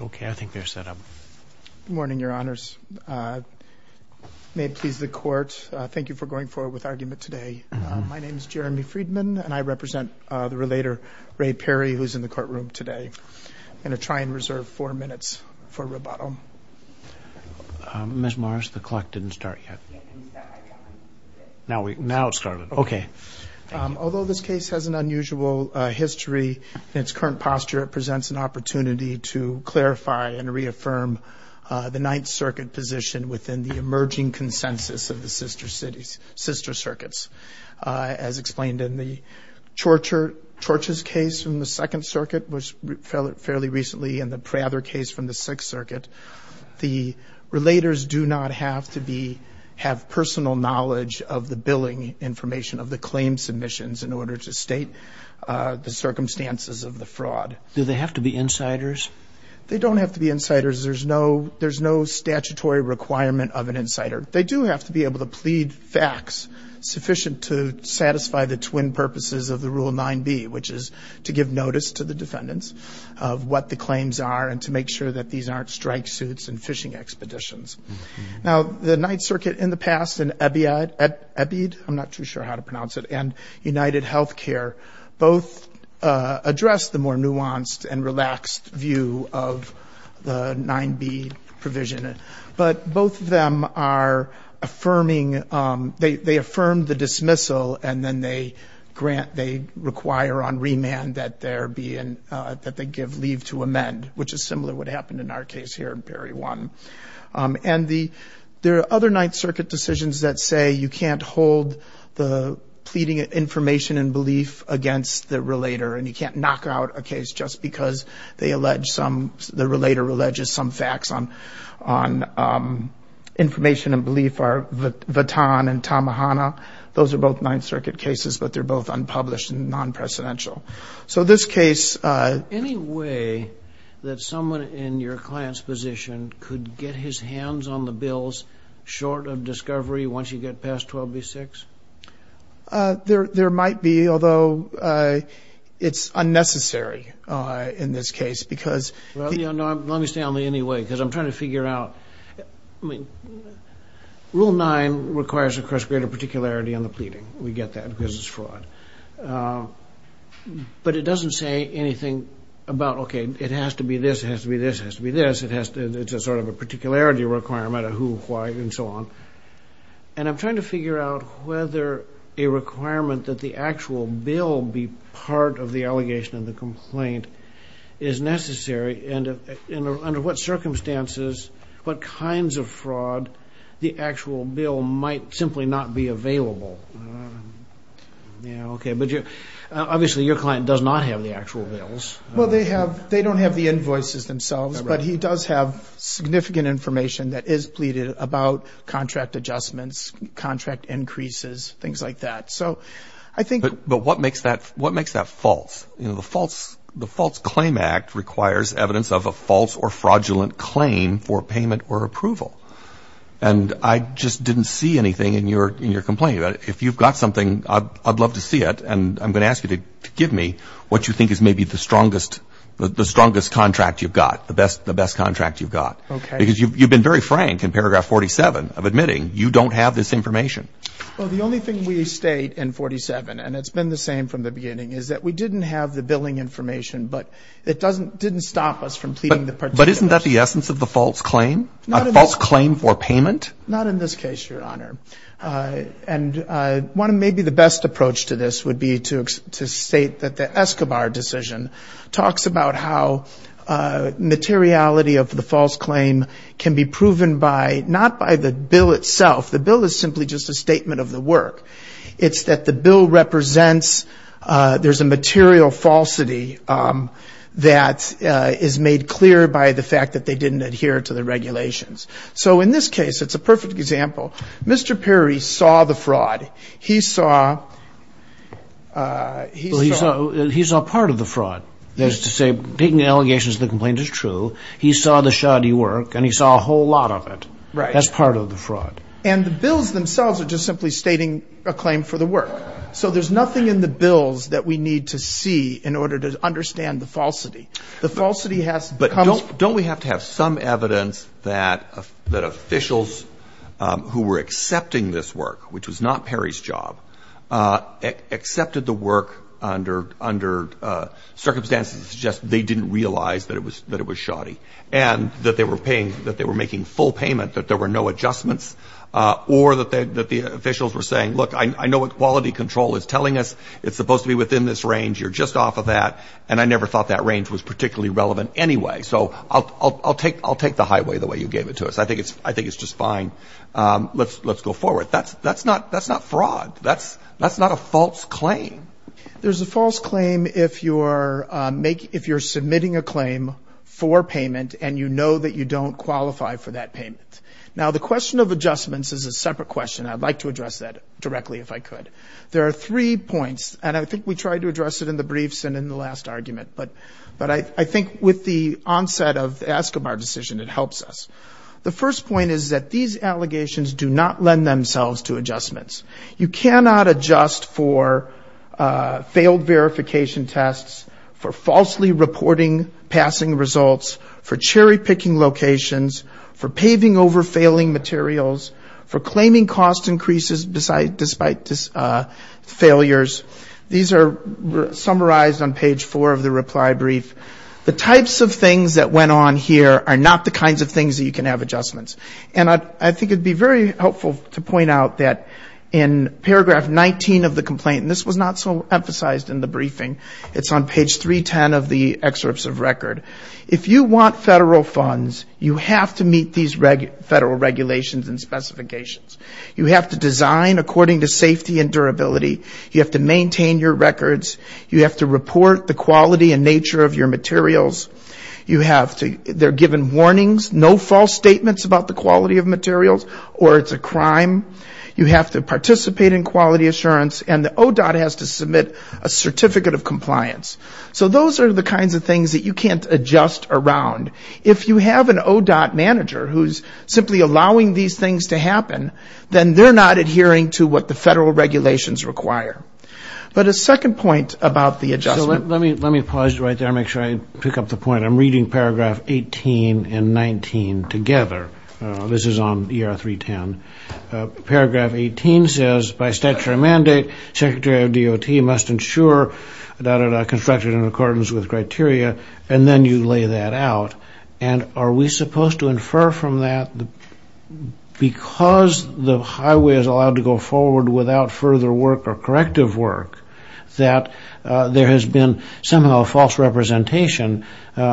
Okay, I think they're set up. Morning, Your Honors. May it please the court. Thank you for going forward with argument today. My name is Jeremy Friedman, and I represent the relator Ray Perry, who's in the courtroom today. I'm going to try and reserve four minutes for rebuttal. Ms. Morris, the clock didn't start yet. Now it started. Okay. Although this case has an unusual history in its current posture, it presents an opportunity to clarify and reaffirm the Ninth Circuit position within the emerging consensus of the sister circuits. As explained in the Chorch's case from the Second Circuit, which fell fairly recently, and the Prather case from the Sixth Circuit, the relators do not have to have personal knowledge of the billing information of the claim submissions in order to state the circumstances of the fraud. Do they have to be insiders? They don't have to be insiders. There's no statutory requirement of an insider. They do have to be able to plead facts sufficient to satisfy the twin purposes of the Rule 9b, which is to give notice to the defendants of what the claims are and to make sure that these aren't strike suits and fishing expeditions. Now, the Ninth Circuit in the past, and EBID, I'm not too sure how to pronounce it, and United Healthcare, both address the more nuanced and relaxed view of the 9b provision. But both of them are affirming, they affirm the dismissal and then they grant, they require on remand that they give leave to amend, which is similar to what happened in our case here in Perry 1. And there are other Ninth Circuit decisions that say you can't hold the pleading information and belief against the relator and you can't knock out a case just because they allege some, the relator alleges some facts on information and belief are Vatan and Tamahana. Those are both Ninth Circuit cases, but they're both unpublished and non-presidential. So this case... Any way that someone in your client's position could get his hands on the bills short of discovery once you get past 12b-6? There might be, although it's unnecessary in this case, because... Well, you know, let me stay on the anyway, because I'm trying to figure out, I mean, Rule 9 requires, of course, greater particularity on the pleading. We get that because it's fraud. But it doesn't say anything about, okay, it has to be this, it has to be this, it has to be this, it has to, it's a sort of a particularity requirement of who, why, and so on. And I'm trying to figure out whether a requirement that the actual bill be part of the allegation and the complaint is necessary and under what circumstances, what kinds of fraud the actual bill might simply not be available. Yeah, okay. But obviously, your client does not have the actual bills. Well, they have, they don't have the invoices themselves, but he does have significant information that is pleaded about contract adjustments, contract increases, things like that. So I think... But what makes that false? You know, the False Claim Act requires evidence of a false or fraudulent claim for payment or approval. And I just didn't see anything in your complaint. If you've got something, I'd love to see it. And I'm going to ask you to give me what you think is maybe the strongest contract you've got, the best contract you've got. Because you've been very frank in paragraph 47 of admitting you don't have this information. Well, the only thing we state in 47, and it's been the same from the beginning, is that we didn't have the billing information, but it didn't stop us from pleading the particulars. But isn't that the essence of the false claim? A false claim for payment? Not in this case, Your Honor. And one of maybe the best approach to this would be to state that the Escobar decision talks about how materiality of the false claim can be proven by... Not by the bill itself. The bill is simply just a statement of the work. It's that the bill represents... There's a material falsity that is made clear by the fact that they didn't adhere to the regulations. So in this case, it's a perfect example. Mr. Perry saw the fraud. He saw... He saw part of the fraud. That is to say, picking allegations of the complaint is true. He saw the shoddy work, and he saw a whole lot of it. Right. That's part of the fraud. And the bills themselves are just simply stating a claim for the work. So there's nothing in the bills that we need to see in order to understand the falsity. The falsity has... But don't we have to have some evidence that officials who were accepting this work, which was not Perry's job, accepted the work under circumstances that suggest they didn't realize that it was shoddy, and that they were paying... That they were making full payment, that there were no adjustments, or that the officials were saying, look, I know what quality control is telling us. It's supposed to be within this range. You're just off of that. And I never thought that range was particularly relevant anyway. So I'll take the highway the way you gave it to us. I think it's just fine. Let's go forward. That's not fraud. That's not a false claim. There's a false claim if you're submitting a claim for payment, and you know that you don't qualify for that payment. Now, the question of adjustments is a separate question. I'd like to address that directly, if I could. There are three points, and I think we tried to address it in the briefs and in the last argument. But I think with the onset of the Escobar decision, it helps us. The first point is that these allegations do not lend themselves to adjustments. You cannot adjust for failed verification tests, for falsely reporting passing results, for cherry picking locations, for paving over failing materials, for claiming cost increases despite failures. These are The types of things that went on here are not the kinds of things that you can have adjustments. And I think it would be very helpful to point out that in paragraph 19 of the complaint, and this was not so emphasized in the briefing, it's on page 310 of the excerpts of record. If you want federal funds, you have to meet these federal regulations and specifications. You have to design according to safety and durability. You have to maintain your records. You have to report the You have to, they're given warnings, no false statements about the quality of materials, or it's a crime. You have to participate in quality assurance, and the ODOT has to submit a certificate of compliance. So those are the kinds of things that you can't adjust around. If you have an ODOT manager who's simply allowing these things to happen, then they're not adhering to what the federal regulations require. But a second point about the adjustment. Let me pause right there and make sure I pick up the point. I'm reading paragraph 18 and 19 together. This is on ER 310. Paragraph 18 says, by statute or mandate, Secretary of DOT must ensure that it's constructed in accordance with criteria, and then you lay that out. And are we supposed to infer from that, because the highway is allowed to go and somehow false representation,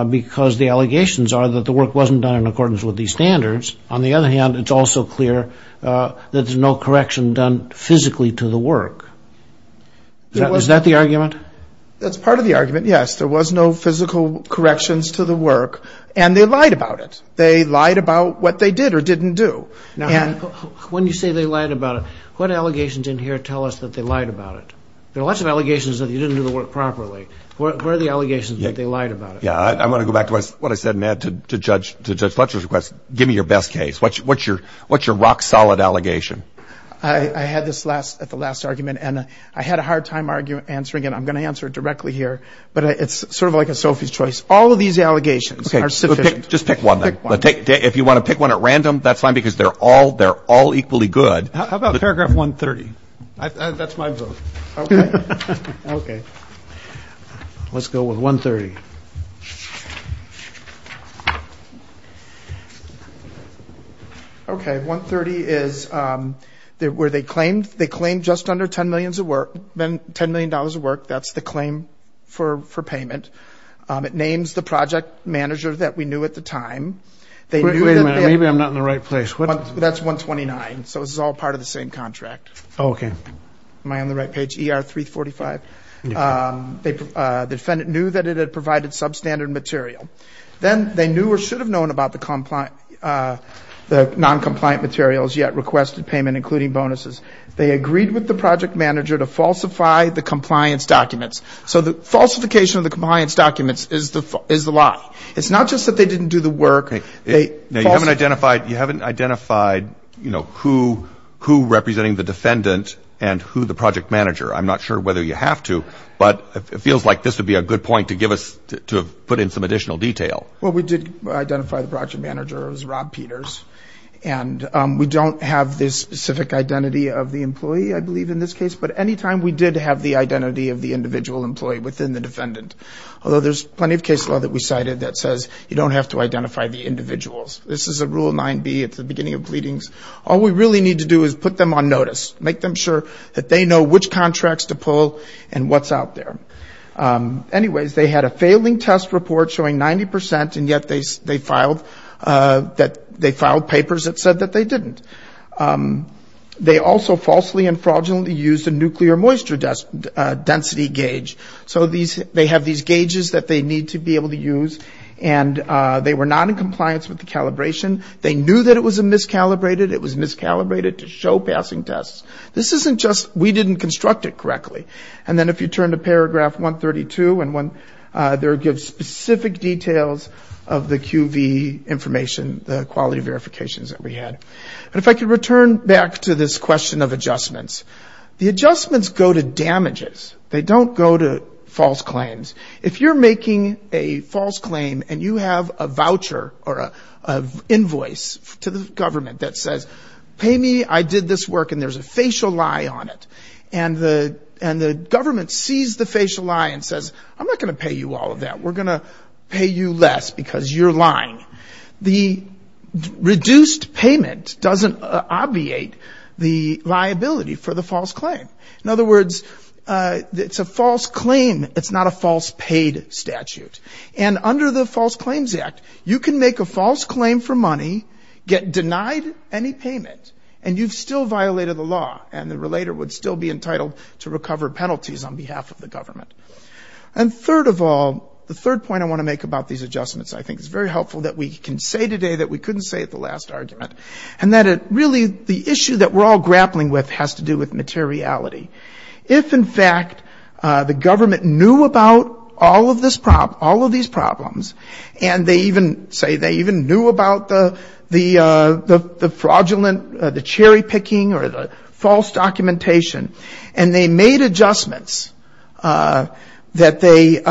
because the allegations are that the work wasn't done in accordance with these standards. On the other hand, it's also clear that there's no correction done physically to the work. Is that the argument? That's part of the argument, yes. There was no physical corrections to the work, and they lied about it. They lied about what they did or didn't do. Now, when you say they lied about it, what allegations in here tell us that they lied about it? There are lots of allegations that you didn't do the work properly. What are the allegations that they lied about it? I want to go back to what I said, Matt, to Judge Fletcher's request. Give me your best case. What's your rock-solid allegation? I had this at the last argument, and I had a hard time answering it. I'm going to answer it directly here, but it's sort of like a Sophie's choice. All of these allegations are sufficient. Just pick one, then. If you want to pick one at random, that's fine, because they're all equally good. How about paragraph 130? That's my vote. Okay. Let's go with 130. Okay. 130 is where they claimed just under $10 million of work. That's the claim for payment. It names the project manager that we knew at the time. Wait a minute. Maybe I'm not in the right place. That's 129, so this is all part of the same contract. Okay. Am I on the right page? ER 345? The defendant knew that it had provided substandard material. Then they knew or should have known about the non-compliant materials, yet requested payment, including bonuses. They agreed with the project manager to falsify the compliance documents. So the falsification of the compliance documents is the lie. It's not just that they didn't do the work. You haven't identified who's representing the defendant and who's the project manager. I'm not sure whether you have to, but it feels like this would be a good point to put in some additional detail. Well, we did identify the project manager as Rob Peters. We don't have the specific identity of the employee, I believe, in this case, but any time we did have the identity of the individual employee within the defendant. Although there's plenty of case law that we cited that says you don't have to identify the individuals, this is a Rule 9B, it's the beginning of pleadings. All we really need to do is put them on notice, make them sure that they know which contracts to pull and what's out there. Anyways, they had a failing test report showing 90%, and yet they filed papers that said that they didn't. They also falsely and fraudulently used a nuclear moisture density gauge. So they have these gauges that they need to be able to use, and they were not in compliance with the calibration. They knew that it was miscalibrated. It was miscalibrated to show passing tests. This isn't just we didn't construct it correctly. And then if you turn to paragraph 132, there it gives specific details of the QV information, the quality verifications that we had. And if I could return back to this question of adjustments. The adjustments go to damages. They don't go to false claims. If you're making a false claim and you have a voucher or an invoice to the government that says, pay me, I did this work, and there's a facial lie on it, and the government sees the facial lie and says, I'm not going to pay you all of that. We're going to pay you less because you're lying. The reduced payment doesn't obviate the liability for the false claim. In other words, it's a false claim. It's not a false paid statute. And under the False Claims Act, you can make a false claim for money, get denied any payment, and you've still violated the law, and the relator would still be entitled to recover penalties on behalf of the government. And third of all, the third point I want to make about these adjustments I think is very helpful, that we can say today that we couldn't say at the last argument, and that it really, the issue that we're all grappling with has to do with materiality. If, in fact, the government knew about all of this problem, all of these problems, and they even say they even knew about the fraudulent, the cherry picking or the false documentation, and they made adjustments that they,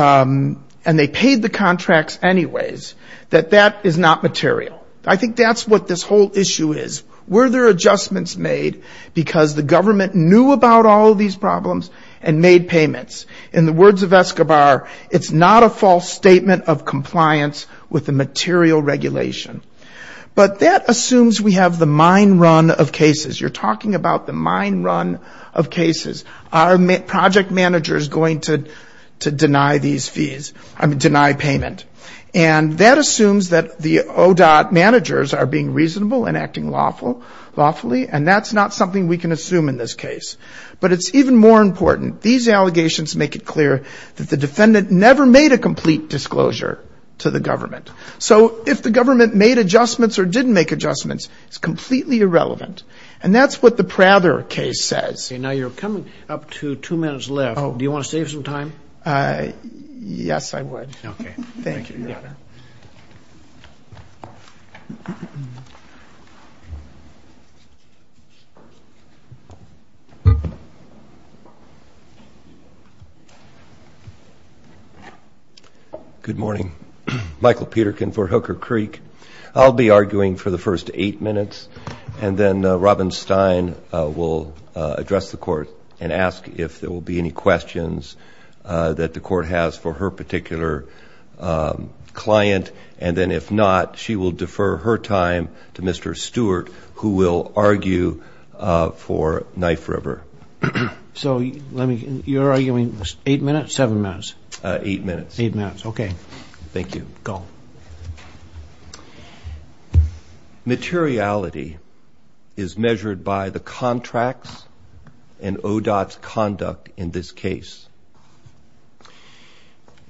and they paid the contracts anyways, that that is not material. I think that's what this whole issue is. Were there adjustments made because the government knew about all of these problems and made payments? In the words of Escobar, it's not a false statement of compliance with the material regulation. But that assumes we have the mine run of cases. You're talking about the mine run of cases. Our project manager is going to deny these fees, I mean, deny payment. And that assumes that the ODOT managers are being reasonable and acting lawfully, and that's not something we can assume in this case. But it's even more important. These allegations make it clear that the defendant never made a complete disclosure to the government. So if the government made adjustments or didn't make adjustments, it's completely irrelevant. And that's what the Prather case says. Now, you're coming up to two minutes left. Do you want to save some time? Yes, I would. Okay. Thank you, Your Honor. Good morning. Michael Peterkin for Hooker Creek. I'll be arguing for the first eight minutes, and then Robin Stein will address the Court and ask if there will be any questions that the Court has for her particular client. And then if not, she will defer her time to Mr. Stewart, who will argue for Knife River. So you're arguing eight minutes, seven minutes? Eight minutes. Okay. Thank you. Go. Materiality is measured by the contract and ODOT's conduct in this case.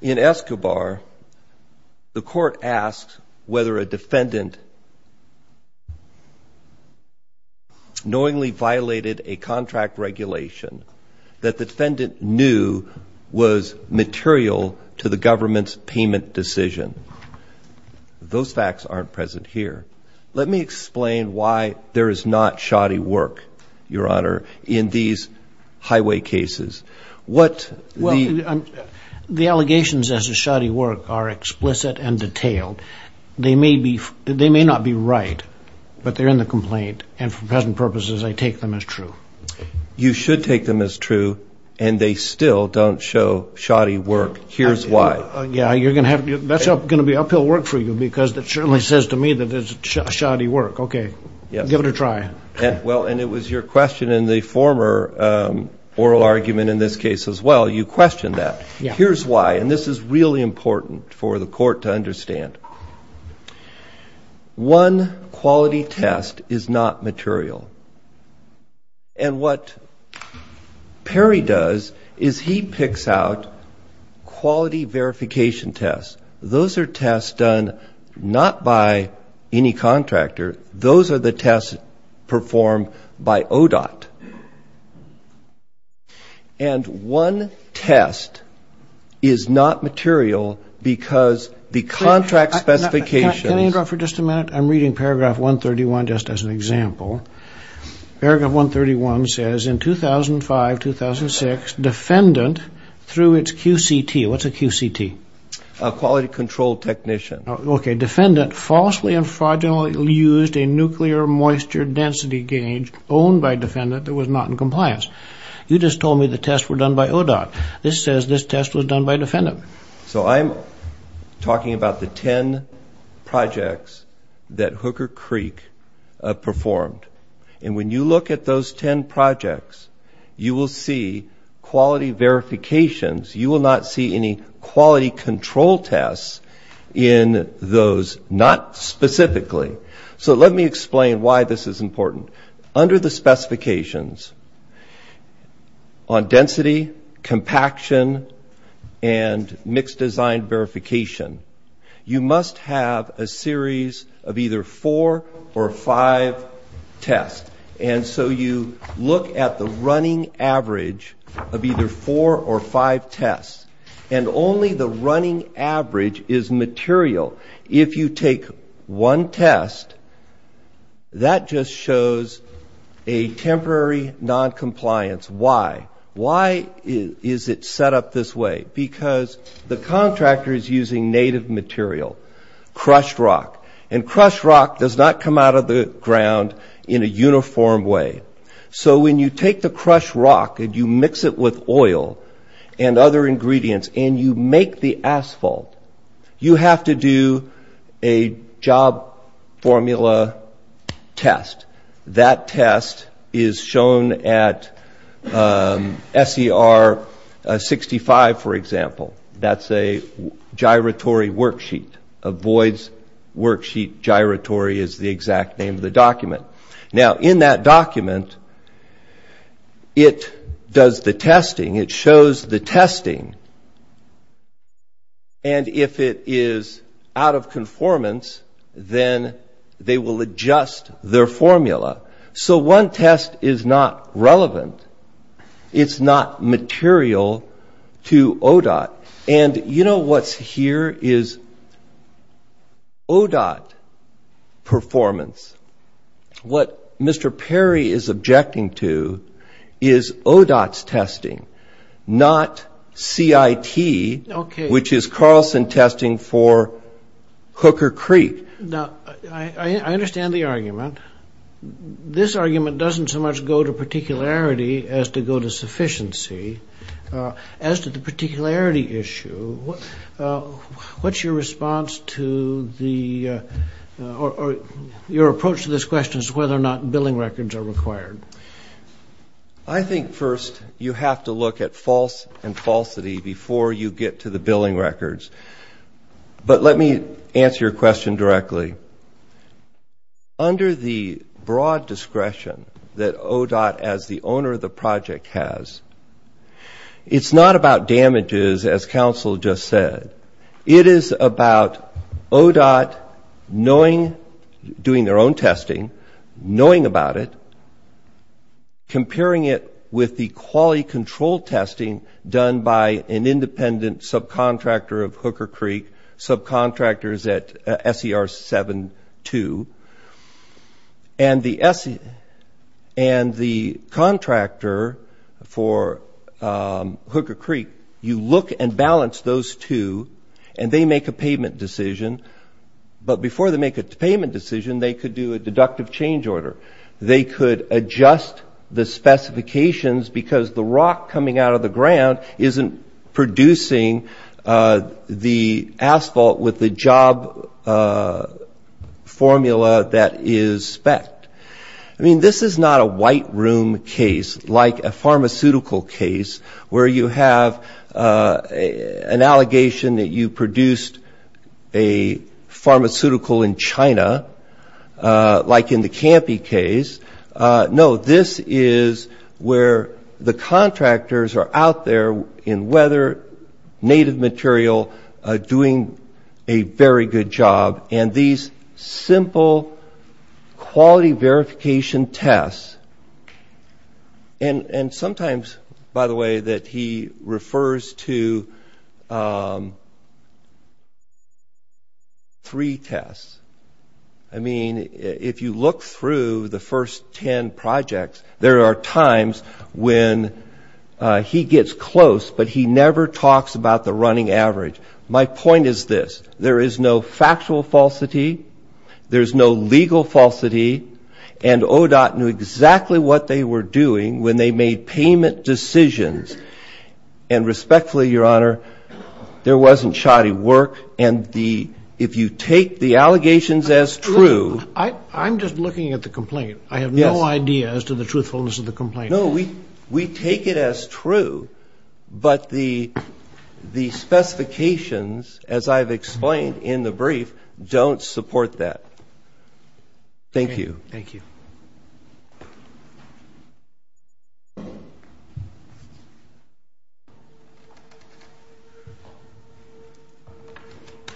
In Escobar, the Court asked whether a defendant knowingly violated a contract regulation that the defendant knew was material to the government's payment decision. Those facts aren't present here. Let me explain why there is not shoddy work, Your Honor, in these highway cases. Well, the allegations as to shoddy work are explicit and detailed. They may not be right, but they're in the complaint. And for present purposes, I take them as true. You should take them as true, and they still don't show shoddy work. Here's why. Yeah, that's going to be uphill work for you because it certainly says to me that it's shoddy work. Okay. Give it a try. Well, and it was your question in the former oral argument in this case as well. You questioned that. Here's why, and this is really important for the Court to understand. One quality test is not material. And what Perry does is he picks out quality verification tests. Those are tests done not by any contractor. Those are the tests performed by ODOT. And one test is not material because the contract specifications. Can I interrupt for just a minute? I'm reading paragraph 131 just as an example. Paragraph 131 says, in 2005-2006, defendant through its QCT. What's a QCT? Quality Control Technician. Okay. Defendant falsely and fraudulently used a nuclear moisture density gauge owned by defendant that was not in compliance. You just told me the tests were done by ODOT. This says this test was done by defendant. So I'm talking about the 10 projects that Hooker Creek performed. And when you look at those 10 projects, you will see quality verifications. You will not see any quality control tests in those, not specifically. So let me explain why this is important. Under the specifications on density, compaction, and mixed design verification, you must have a series of either four or five tests. And so you look at the running average of either four or five tests. And only the running average is material. If you take one test, that just shows a temporary noncompliance. Why? Why is it set up this way? Because the contractor is using native material, crushed rock. And crushed rock does not come out of the ground in a uniform way. So when you take the crushed rock and you mix it with oil and other ingredients and you make the asphalt, you have to do a job formula test. That test is shown at SER 65, for example. That's a gyratory worksheet. A voids worksheet gyratory is the exact name of the document. Now, in that document, it does the testing. It shows the testing. And if it is out of conformance, then they will adjust their formula. So one test is not relevant. It's not material to ODOT. And you know what's here is ODOT performance. What Mr. Perry is objecting to is ODOT's testing, not CIT, which is Carlson testing for Hooker Creek. Now, I understand the argument. This argument doesn't so much go to particularity as to go to sufficiency. As to the particularity issue, what's your response to the or your approach to this question as to whether or not billing records are required? I think first you have to look at false and falsity before you get to the billing records. But let me answer your question directly. Under the broad discretion that ODOT as the owner of the project has, it's not about damages, as counsel just said. It is about ODOT knowing, doing their own testing, knowing about it, comparing it with the quality control testing done by an independent subcontractor of Hooker Creek, subcontractors at SER 72. And the contractor for Hooker Creek, you look and balance those two, and they make a payment decision. But before they make a payment decision, they could do a deductive change order. They could adjust the specifications because the rock coming out of the ground isn't producing the asphalt with the job formula that is spec'd. I mean, this is not a white room case like a pharmaceutical case where you have an allegation that you produced a pharmaceutical in China like in the Campy case. No, this is where the contractors are out there in weather, native material, doing a very good job. And these simple quality verification tests, and sometimes, by the way, that he refers to three tests. I mean, if you look through the first ten projects, there are times when he gets close, but he never talks about the running average. My point is this. There is no factual falsity. There is no legal falsity. And ODOT knew exactly what they were doing when they made payment decisions. And respectfully, Your Honor, there wasn't shoddy work. And the ‑‑ if you take the allegations as true ‑‑ I'm just looking at the complaint. I have no idea as to the truthfulness of the complaint. No, we take it as true, but the specifications, as I've explained in the brief, don't support that. Thank you. Thank you.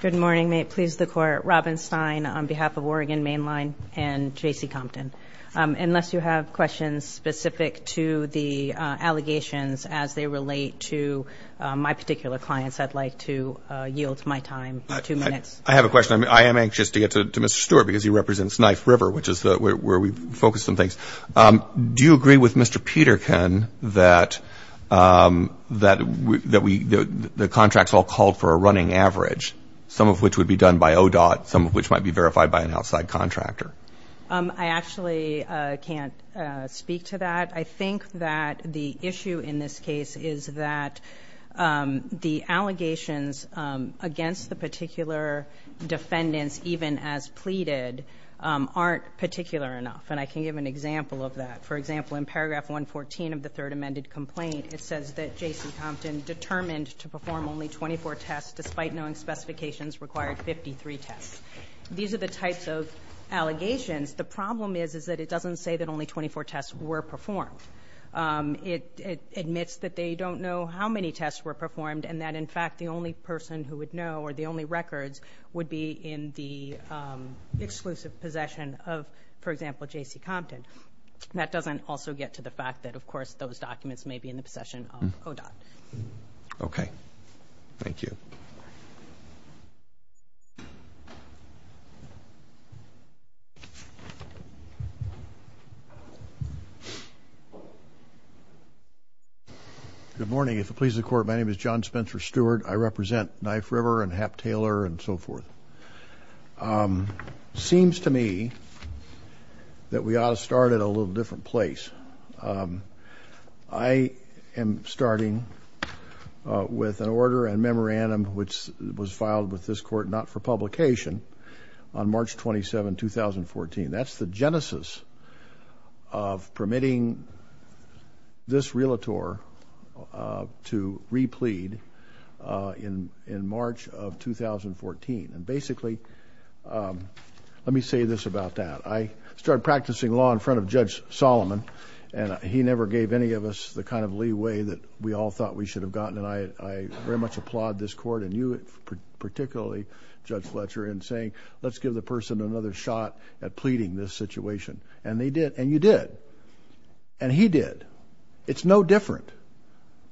Good morning. May it please the Court. Robin Stein on behalf of Oregon Mainline and JC Compton. Unless you have questions specific to the allegations as they relate to my particular clients, I'd like to yield my time for two minutes. I have a question. I am anxious to get to Mr. Stewart because he represents Knife River, which is where we focus some things. Do you agree with Mr. Peterkin that the contracts all called for a running average, some of which would be done by ODOT, some of which might be verified by an outside contractor? I actually can't speak to that. I think that the issue in this case is that the allegations against the particular defendants, even as pleaded, aren't particular enough. And I can give an example of that. For example, in paragraph 114 of the third amended complaint, it says that JC Compton determined to perform only 24 tests despite knowing specifications required 53 tests. These are the types of allegations. The problem is that it doesn't say that only 24 tests were performed. It admits that they don't know how many tests were performed and that, in fact, the only person who would know or the only records would be in the exclusive possession of, for example, JC Compton. That doesn't also get to the fact that, of course, those documents may be in the possession of ODOT. Okay. Thank you. Good morning. If it pleases the Court, my name is John Spencer Stewart. I represent Knife River and Hap Taylor and so forth. Seems to me that we ought to start at a little different place. I am starting with an order and memorandum which was filed with this Court not for publication on March 27, 2014. That's the genesis of permitting this realtor to replead in March of 2014. And basically, let me say this about that. I started practicing law in front of Judge Solomon, and he never gave any of us the kind of leeway that we all thought we should have gotten. And I very much applaud this Court and you particularly, Judge Fletcher, in saying let's give the person another shot at pleading this situation. And they did, and you did, and he did. It's no different.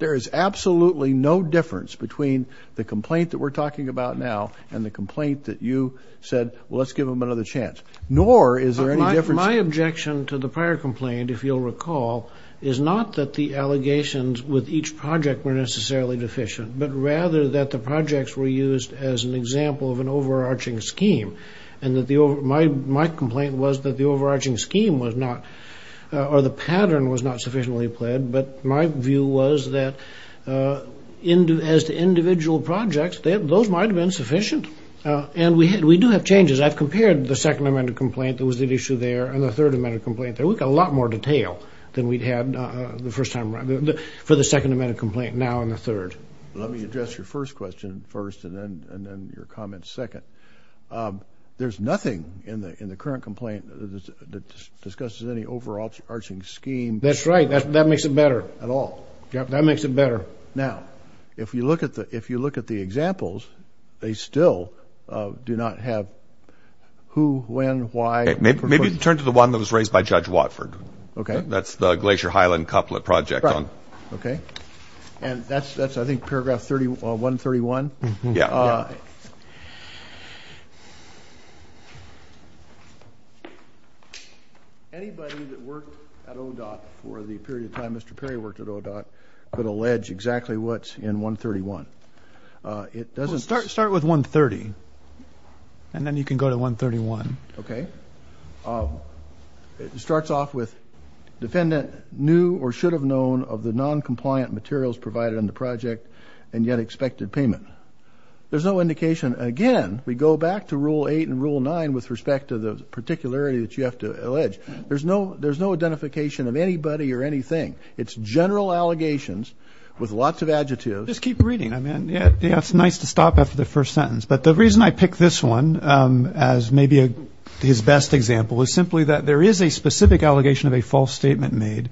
There is absolutely no difference between the complaint that we're talking about now and the complaint that you said, well, let's give him another chance. Nor is there any difference... My objection to the prior complaint, if you'll recall, is not that the allegations with each project were necessarily deficient, but rather that the projects were used as an example of an overarching scheme. And my complaint was that the overarching scheme was not, or the pattern was not sufficiently pled, but my view was that as to individual projects, those might have been sufficient. And we do have changes. I've compared the Second Amendment complaint that was at issue there and the Third Amendment complaint there. We've got a lot more detail than we'd had the first time around for the Second Amendment complaint now and the third. Let me address your first question first and then your comments second. There's nothing in the current complaint that discusses any overarching scheme... That's right. That makes it better. ...at all. Yep, that makes it better. Now, if you look at the examples, they still do not have who, when, why... Maybe turn to the one that was raised by Judge Watford. Okay. That's the Glacier Highland couplet project. Right. Okay. And that's, I think, paragraph 131. Yeah. Anybody that worked at ODOT for the period of time Mr. Perry worked at ODOT could allege exactly what's in 131. It doesn't... Start with 130, and then you can go to 131. Okay. It starts off with defendant knew or should have known of the noncompliant materials provided in the project and yet expected payment. There's no indication. Again, we go back to Rule 8 and Rule 9 with respect to the particularity that you have to allege. There's no identification of anybody or anything. It's general allegations with lots of adjectives. Just keep reading. I mean, it's nice to stop after the first sentence. But the reason I pick this one as maybe his best example is simply that there is a specific allegation of a false statement made.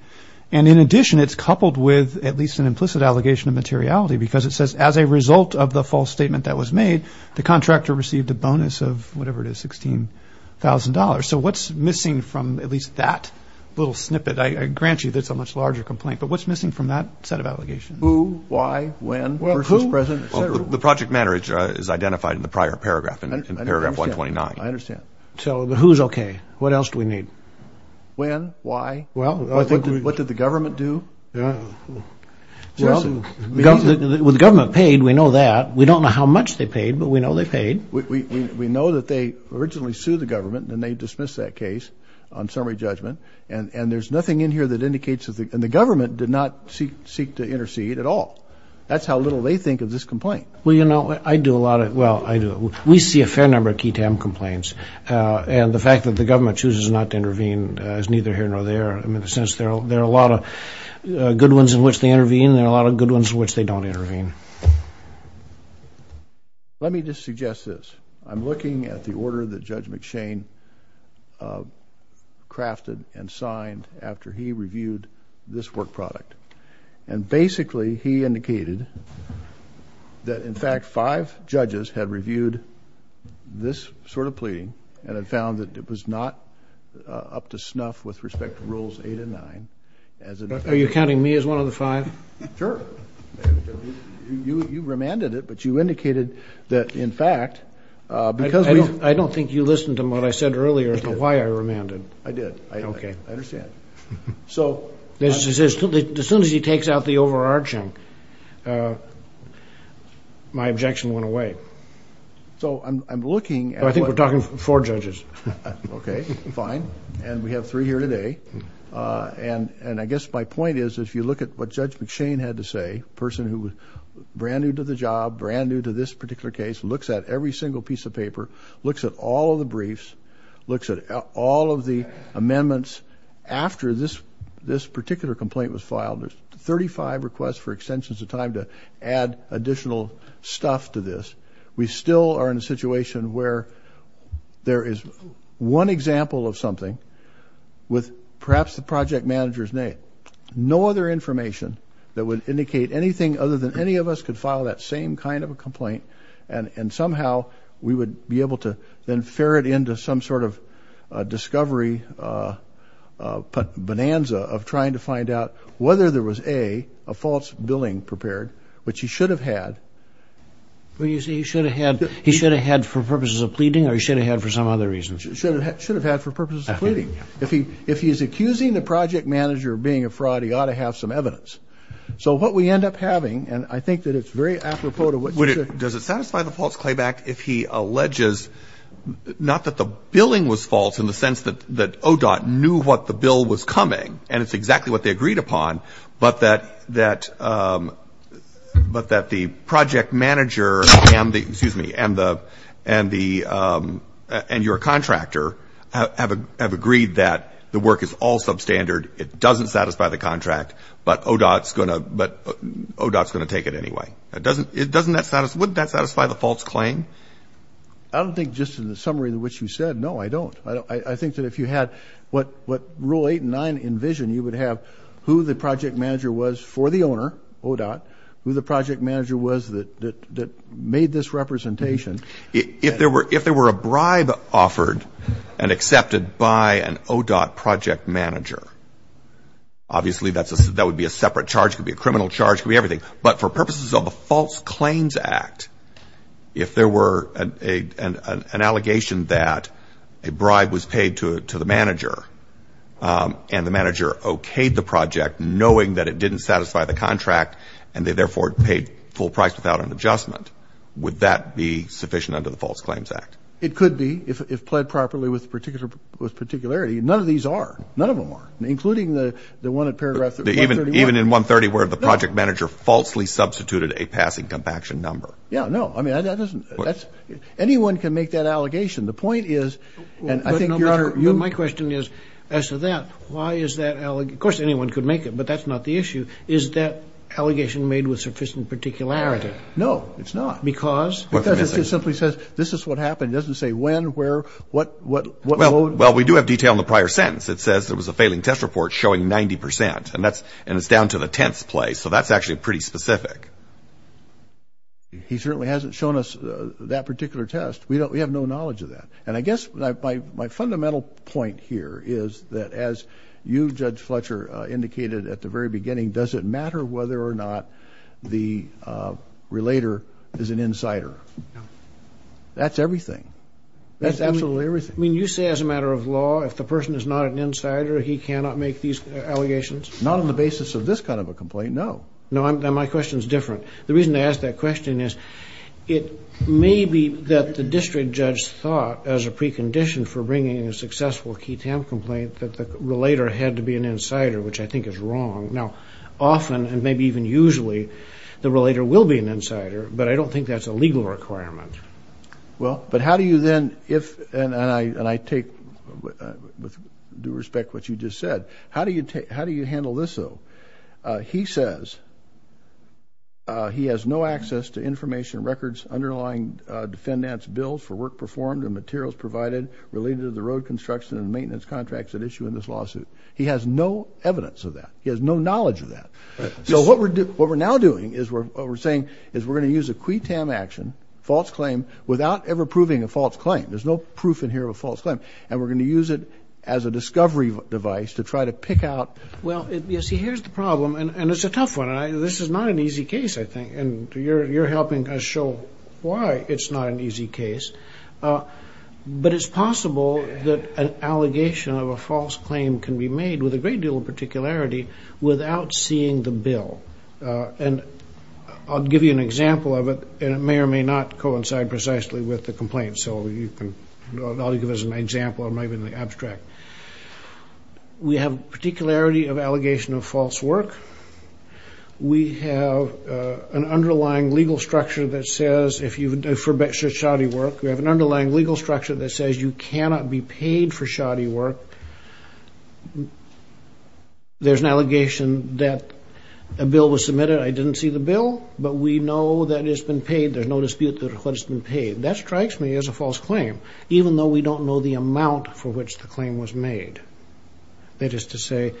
And in addition, it's coupled with at least an implicit allegation of materiality because it says, as a result of the false statement that was made, the contractor received a bonus of whatever it is, $16,000. So what's missing from at least that little snippet? I grant you that's a much larger complaint. But what's missing from that set of allegations? Who, why, when, versus present, et cetera. The project manager is identified in the prior paragraph, in paragraph 129. I understand. So who's okay? What else do we need? When? Why? What did the government do? Well, with the government paid, we know that. We don't know how much they paid, but we know they paid. We know that they originally sued the government and they dismissed that case on summary judgment. And there's nothing in here that indicates that the government did not seek to intercede at all. That's how little they think of this complaint. Well, you know, I do a lot of, well, I do. We see a fair number of key TAM complaints. And the fact that the government chooses not to intervene is neither here nor there. I mean, in a sense, there are a lot of good ones in which they intervene and there are a lot of good ones in which they don't intervene. Let me just suggest this. I'm looking at the order that Judge McShane crafted and signed after he reviewed this work product. And basically, he indicated that, in fact, five judges had reviewed this sort of pleading and had found that it was not up to snuff with respect to Rules 8 and 9. Are you counting me as one of the five? Sure. You remanded it, but you indicated that, in fact, because we've... I don't think you listened to what I said earlier as to why I remanded. I did. Okay. I understand. So... As soon as he takes out the overarching, my objection went away. So I'm looking at what... I think we're talking four judges. Okay, fine. And we have three here today. And I guess my point is, if you look at what Judge McShane had to say, a person who was brand new to the job, brand new to this particular case, looks at every single piece of paper, looks at all of the briefs, looks at all of the amendments after this particular complaint was filed, there's 35 requests for extensions of time to add additional stuff to this. We still are in a situation where there is one example of something with perhaps the project manager's name, no other information that would indicate anything other than any of us could file that same kind of a complaint, and somehow we would be able to then ferret into some sort of discovery bonanza of trying to find out whether there was, A, a false billing prepared, which he should have had. You say he should have had... He should have had for purposes of pleading, or he should have had for some other reason? Should have had for purposes of pleading. If he's accusing the project manager of being a fraud, he ought to have some evidence. So what we end up having, and I think that it's very apropos to what... Does it satisfy the false clayback if he alleges, not that the billing was false in the sense that ODOT knew what the bill was coming, and it's exactly what they agreed upon, but that the project manager and the, excuse me, and your contractor have agreed that the work is all substandard, it doesn't satisfy the contract, but ODOT's going to take it anyway. Wouldn't that satisfy the false claim? I don't think just in the summary in which you said, no, I don't. I think that if you had what Rule 8 and 9 envision, you would have who the project manager was for the owner, ODOT, who the project manager was that made this representation. If there were a bribe offered and accepted by an ODOT project manager, obviously that would be a separate charge. It could be a criminal charge. It could be everything. But for purposes of the False Claims Act, if there were an allegation that a bribe was paid to the manager and the manager okayed the project knowing that it didn't satisfy the contract and they therefore paid full price without an adjustment, would that be sufficient under the False Claims Act? It could be if pled properly with particularity. None of these are. None of them are, including the one in paragraph 131. Where the project manager falsely substituted a passing compaction number. Yeah, no. I mean, anyone can make that allegation. The point is, and I think, Your Honor, my question is as to that, why is that allegation? Of course anyone could make it, but that's not the issue. Is that allegation made with sufficient particularity? No, it's not. Because? Because it simply says this is what happened. It doesn't say when, where, what load. Well, we do have detail in the prior sentence. It says there was a failing test report showing 90%, and it's down to the tenth place. So that's actually pretty specific. He certainly hasn't shown us that particular test. We have no knowledge of that. And I guess my fundamental point here is that as you, Judge Fletcher, indicated at the very beginning, does it matter whether or not the relator is an insider? No. That's everything. That's absolutely everything. I mean, you say as a matter of law, if the person is not an insider, he cannot make these allegations? Not on the basis of this kind of a complaint, no. No. Then my question is different. The reason I ask that question is it may be that the district judge thought, as a precondition for bringing a successful key TAM complaint, that the relator had to be an insider, which I think is wrong. Now, often, and maybe even usually, the relator will be an insider, but I don't think that's a legal requirement. Well, but how do you then, if, and I take with due respect what you just said, how do you handle this, though? He says he has no access to information, records, underlying defendants' bills for work performed and materials provided related to the road construction and maintenance contracts at issue in this lawsuit. He has no evidence of that. He has no knowledge of that. So what we're now doing is what we're saying is we're going to use a key TAM action, false claim, without ever proving a false claim. There's no proof in here of a false claim. And we're going to use it as a discovery device to try to pick out. Well, you see, here's the problem, and it's a tough one. This is not an easy case, I think, and you're helping us show why it's not an easy case. But it's possible that an allegation of a false claim can be made with a great deal of particularity without seeing the bill. And I'll give you an example of it, and it may or may not coincide precisely with the complaint. So I'll give it as an example. It might be in the abstract. We have particularity of allegation of false work. We have an underlying legal structure that says if you forbid shoddy work, we have an underlying legal structure that says you cannot be paid for shoddy work. There's an allegation that a bill was submitted. I didn't see the bill, but we know that it's been paid. There's no dispute that it's been paid. That strikes me as a false claim, even though we don't know the amount for which the claim was made. That is to say,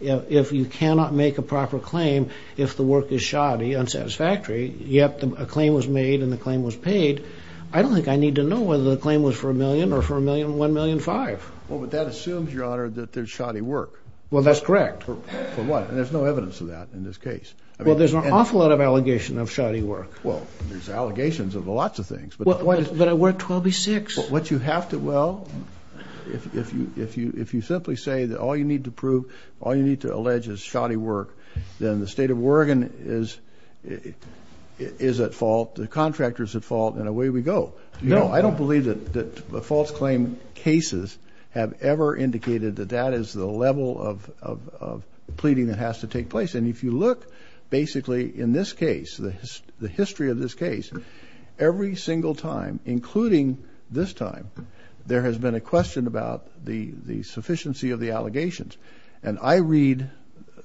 if you cannot make a proper claim if the work is shoddy, unsatisfactory, yet a claim was made and the claim was paid, I don't think I need to know whether the claim was for a million or for 1,000,005. Well, but that assumes, Your Honor, that there's shoddy work. Well, that's correct. For what? And there's no evidence of that in this case. Well, there's an awful lot of allegation of shoddy work. Well, there's allegations of lots of things. But I work 12B-6. What you have to, well, if you simply say that all you need to prove, all you need to allege is shoddy work, then the State of Oregon is at fault, the contractor's at fault, and away we go. No, I don't believe that false claim cases have ever indicated that that is the level of pleading that has to take place. And if you look basically in this case, the history of this case, every single time, including this time, there has been a question about the sufficiency of the allegations. And I read,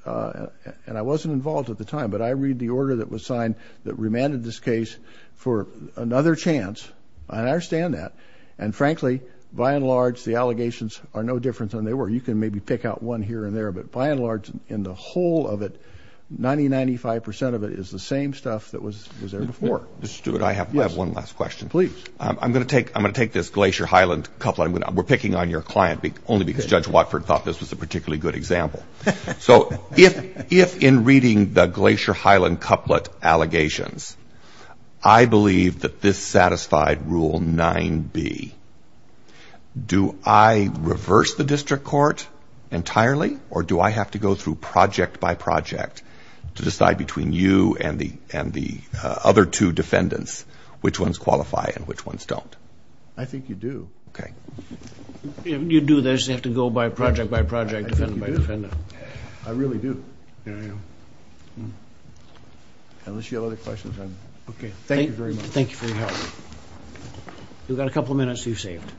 and I wasn't involved at the time, but I read the order that was signed that remanded this case for another chance. I understand that. And, frankly, by and large, the allegations are no different than they were. You can maybe pick out one here and there, but by and large, in the whole of it, 90%, 95% of it is the same stuff that was there before. Mr. Stewart, I have one last question. Please. I'm going to take this Glacier Highland couple. We're picking on your client only because Judge Watford thought this was a particularly good example. So if in reading the Glacier Highland couplet allegations, I believe that this satisfied Rule 9B, do I reverse the district court entirely, or do I have to go through project by project to decide between you and the other two defendants which ones qualify and which ones don't? I think you do. Okay. If you do this, you have to go by project by project, defendant by defendant. I think you do. I really do. Yeah, I know. Unless you have other questions. Okay. Thank you very much. Thank you for your help. You've got a couple of minutes you've saved.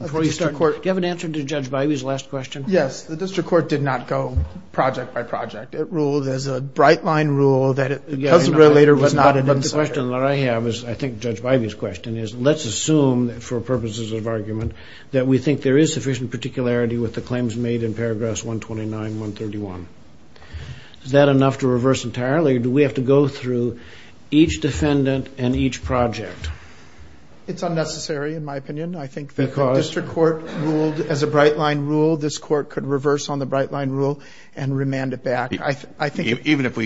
Before you start, do you have an answer to Judge Bybee's last question? Yes. The district court did not go project by project. It ruled as a bright-line rule that it was not an insider. The question that I have is, I think Judge Bybee's question is, let's assume for purposes of argument that we think there is sufficient particularity with the claims made in paragraphs 129, 131. Is that enough to reverse entirely, or do we have to go through each defendant and each project? It's unnecessary in my opinion. I think that the district court ruled as a bright-line rule. This court could reverse on the bright-line rule and remand it back. Even if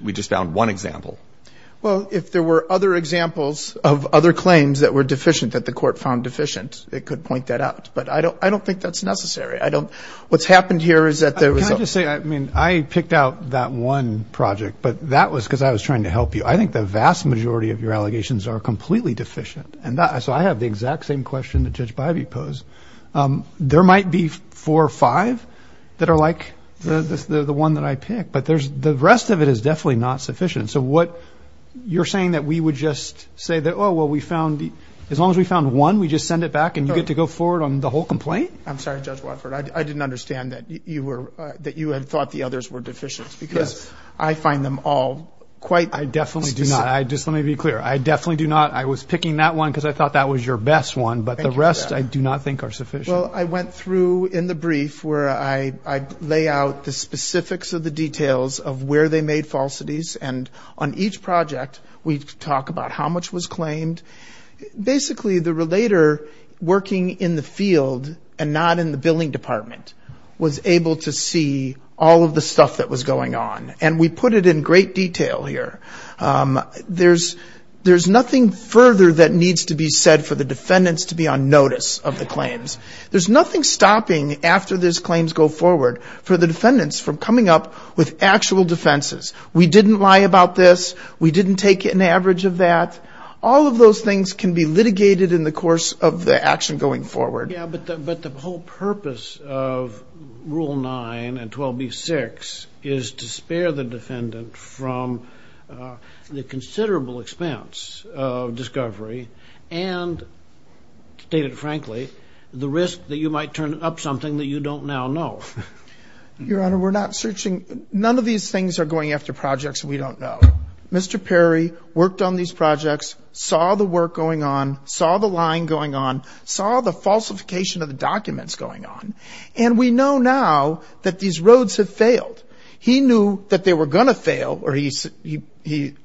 we just found one example? Well, if there were other examples of other claims that were deficient that the court found deficient, it could point that out. But I don't think that's necessary. What's happened here is that there was a – Can I just say, I mean, I picked out that one project, but that was because I was trying to help you. I think the vast majority of your allegations are completely deficient. So I have the exact same question that Judge Bybee posed. There might be four or five that are like the one that I picked, but the rest of it is definitely not sufficient. So what you're saying that we would just say that, oh, well, we found – as long as we found one, we just send it back, and you get to go forward on the whole complaint? I'm sorry, Judge Watford. I didn't understand that you had thought the others were deficient because I find them all quite – I definitely do not. Just let me be clear. I definitely do not. I was picking that one because I thought that was your best one, but the rest I do not think are sufficient. Well, I went through in the brief where I lay out the specifics of the details of where they made falsities, and on each project we talk about how much was claimed. Basically, the relator working in the field and not in the billing department was able to see all of the stuff that was going on, and we put it in great detail here. There's nothing further that needs to be said for the defendants to be on notice of the claims. There's nothing stopping after these claims go forward for the defendants from coming up with actual defenses. We didn't lie about this. We didn't take an average of that. All of those things can be litigated in the course of the action going forward. Yeah, but the whole purpose of Rule 9 and 12b-6 is to spare the defendant from the considerable expense of discovery and, to state it frankly, the risk that you might turn up something that you don't now know. Your Honor, we're not searching. None of these things are going after projects we don't know. Mr. Perry worked on these projects, saw the work going on, saw the lying going on, saw the falsification of the documents going on, and we know now that these roads have failed. He knew that they were going to fail, or he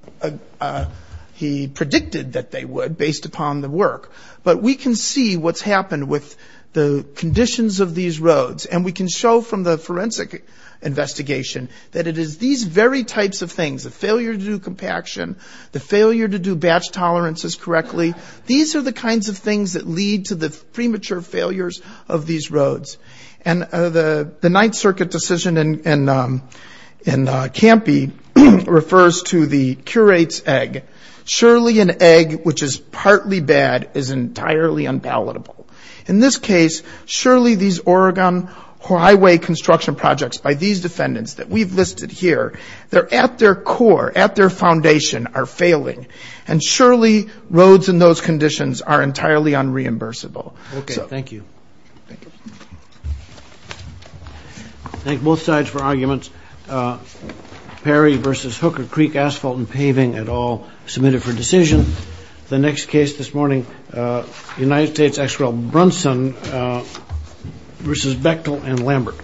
predicted that they would based upon the work, but we can see what's happened with the conditions of these roads, and we can show from the forensic investigation that it is these very types of things, the failure to do compaction, the failure to do batch tolerances correctly, these are the kinds of things that lead to the premature failures of these roads. And the Ninth Circuit decision in Campy refers to the curate's egg. Surely an egg which is partly bad is entirely unpalatable. In this case, surely these Oregon Highway construction projects by these defendants that we've listed here, they're at their core, at their foundation, are failing, and surely roads in those conditions are entirely unreimbursable. Okay, thank you. Thank you. Thank both sides for arguments. Perry versus Hooker Creek Asphalt and Paving, it all submitted for decision. The next case this morning, United States ex-rel Brunson versus Bechtel and Lambert.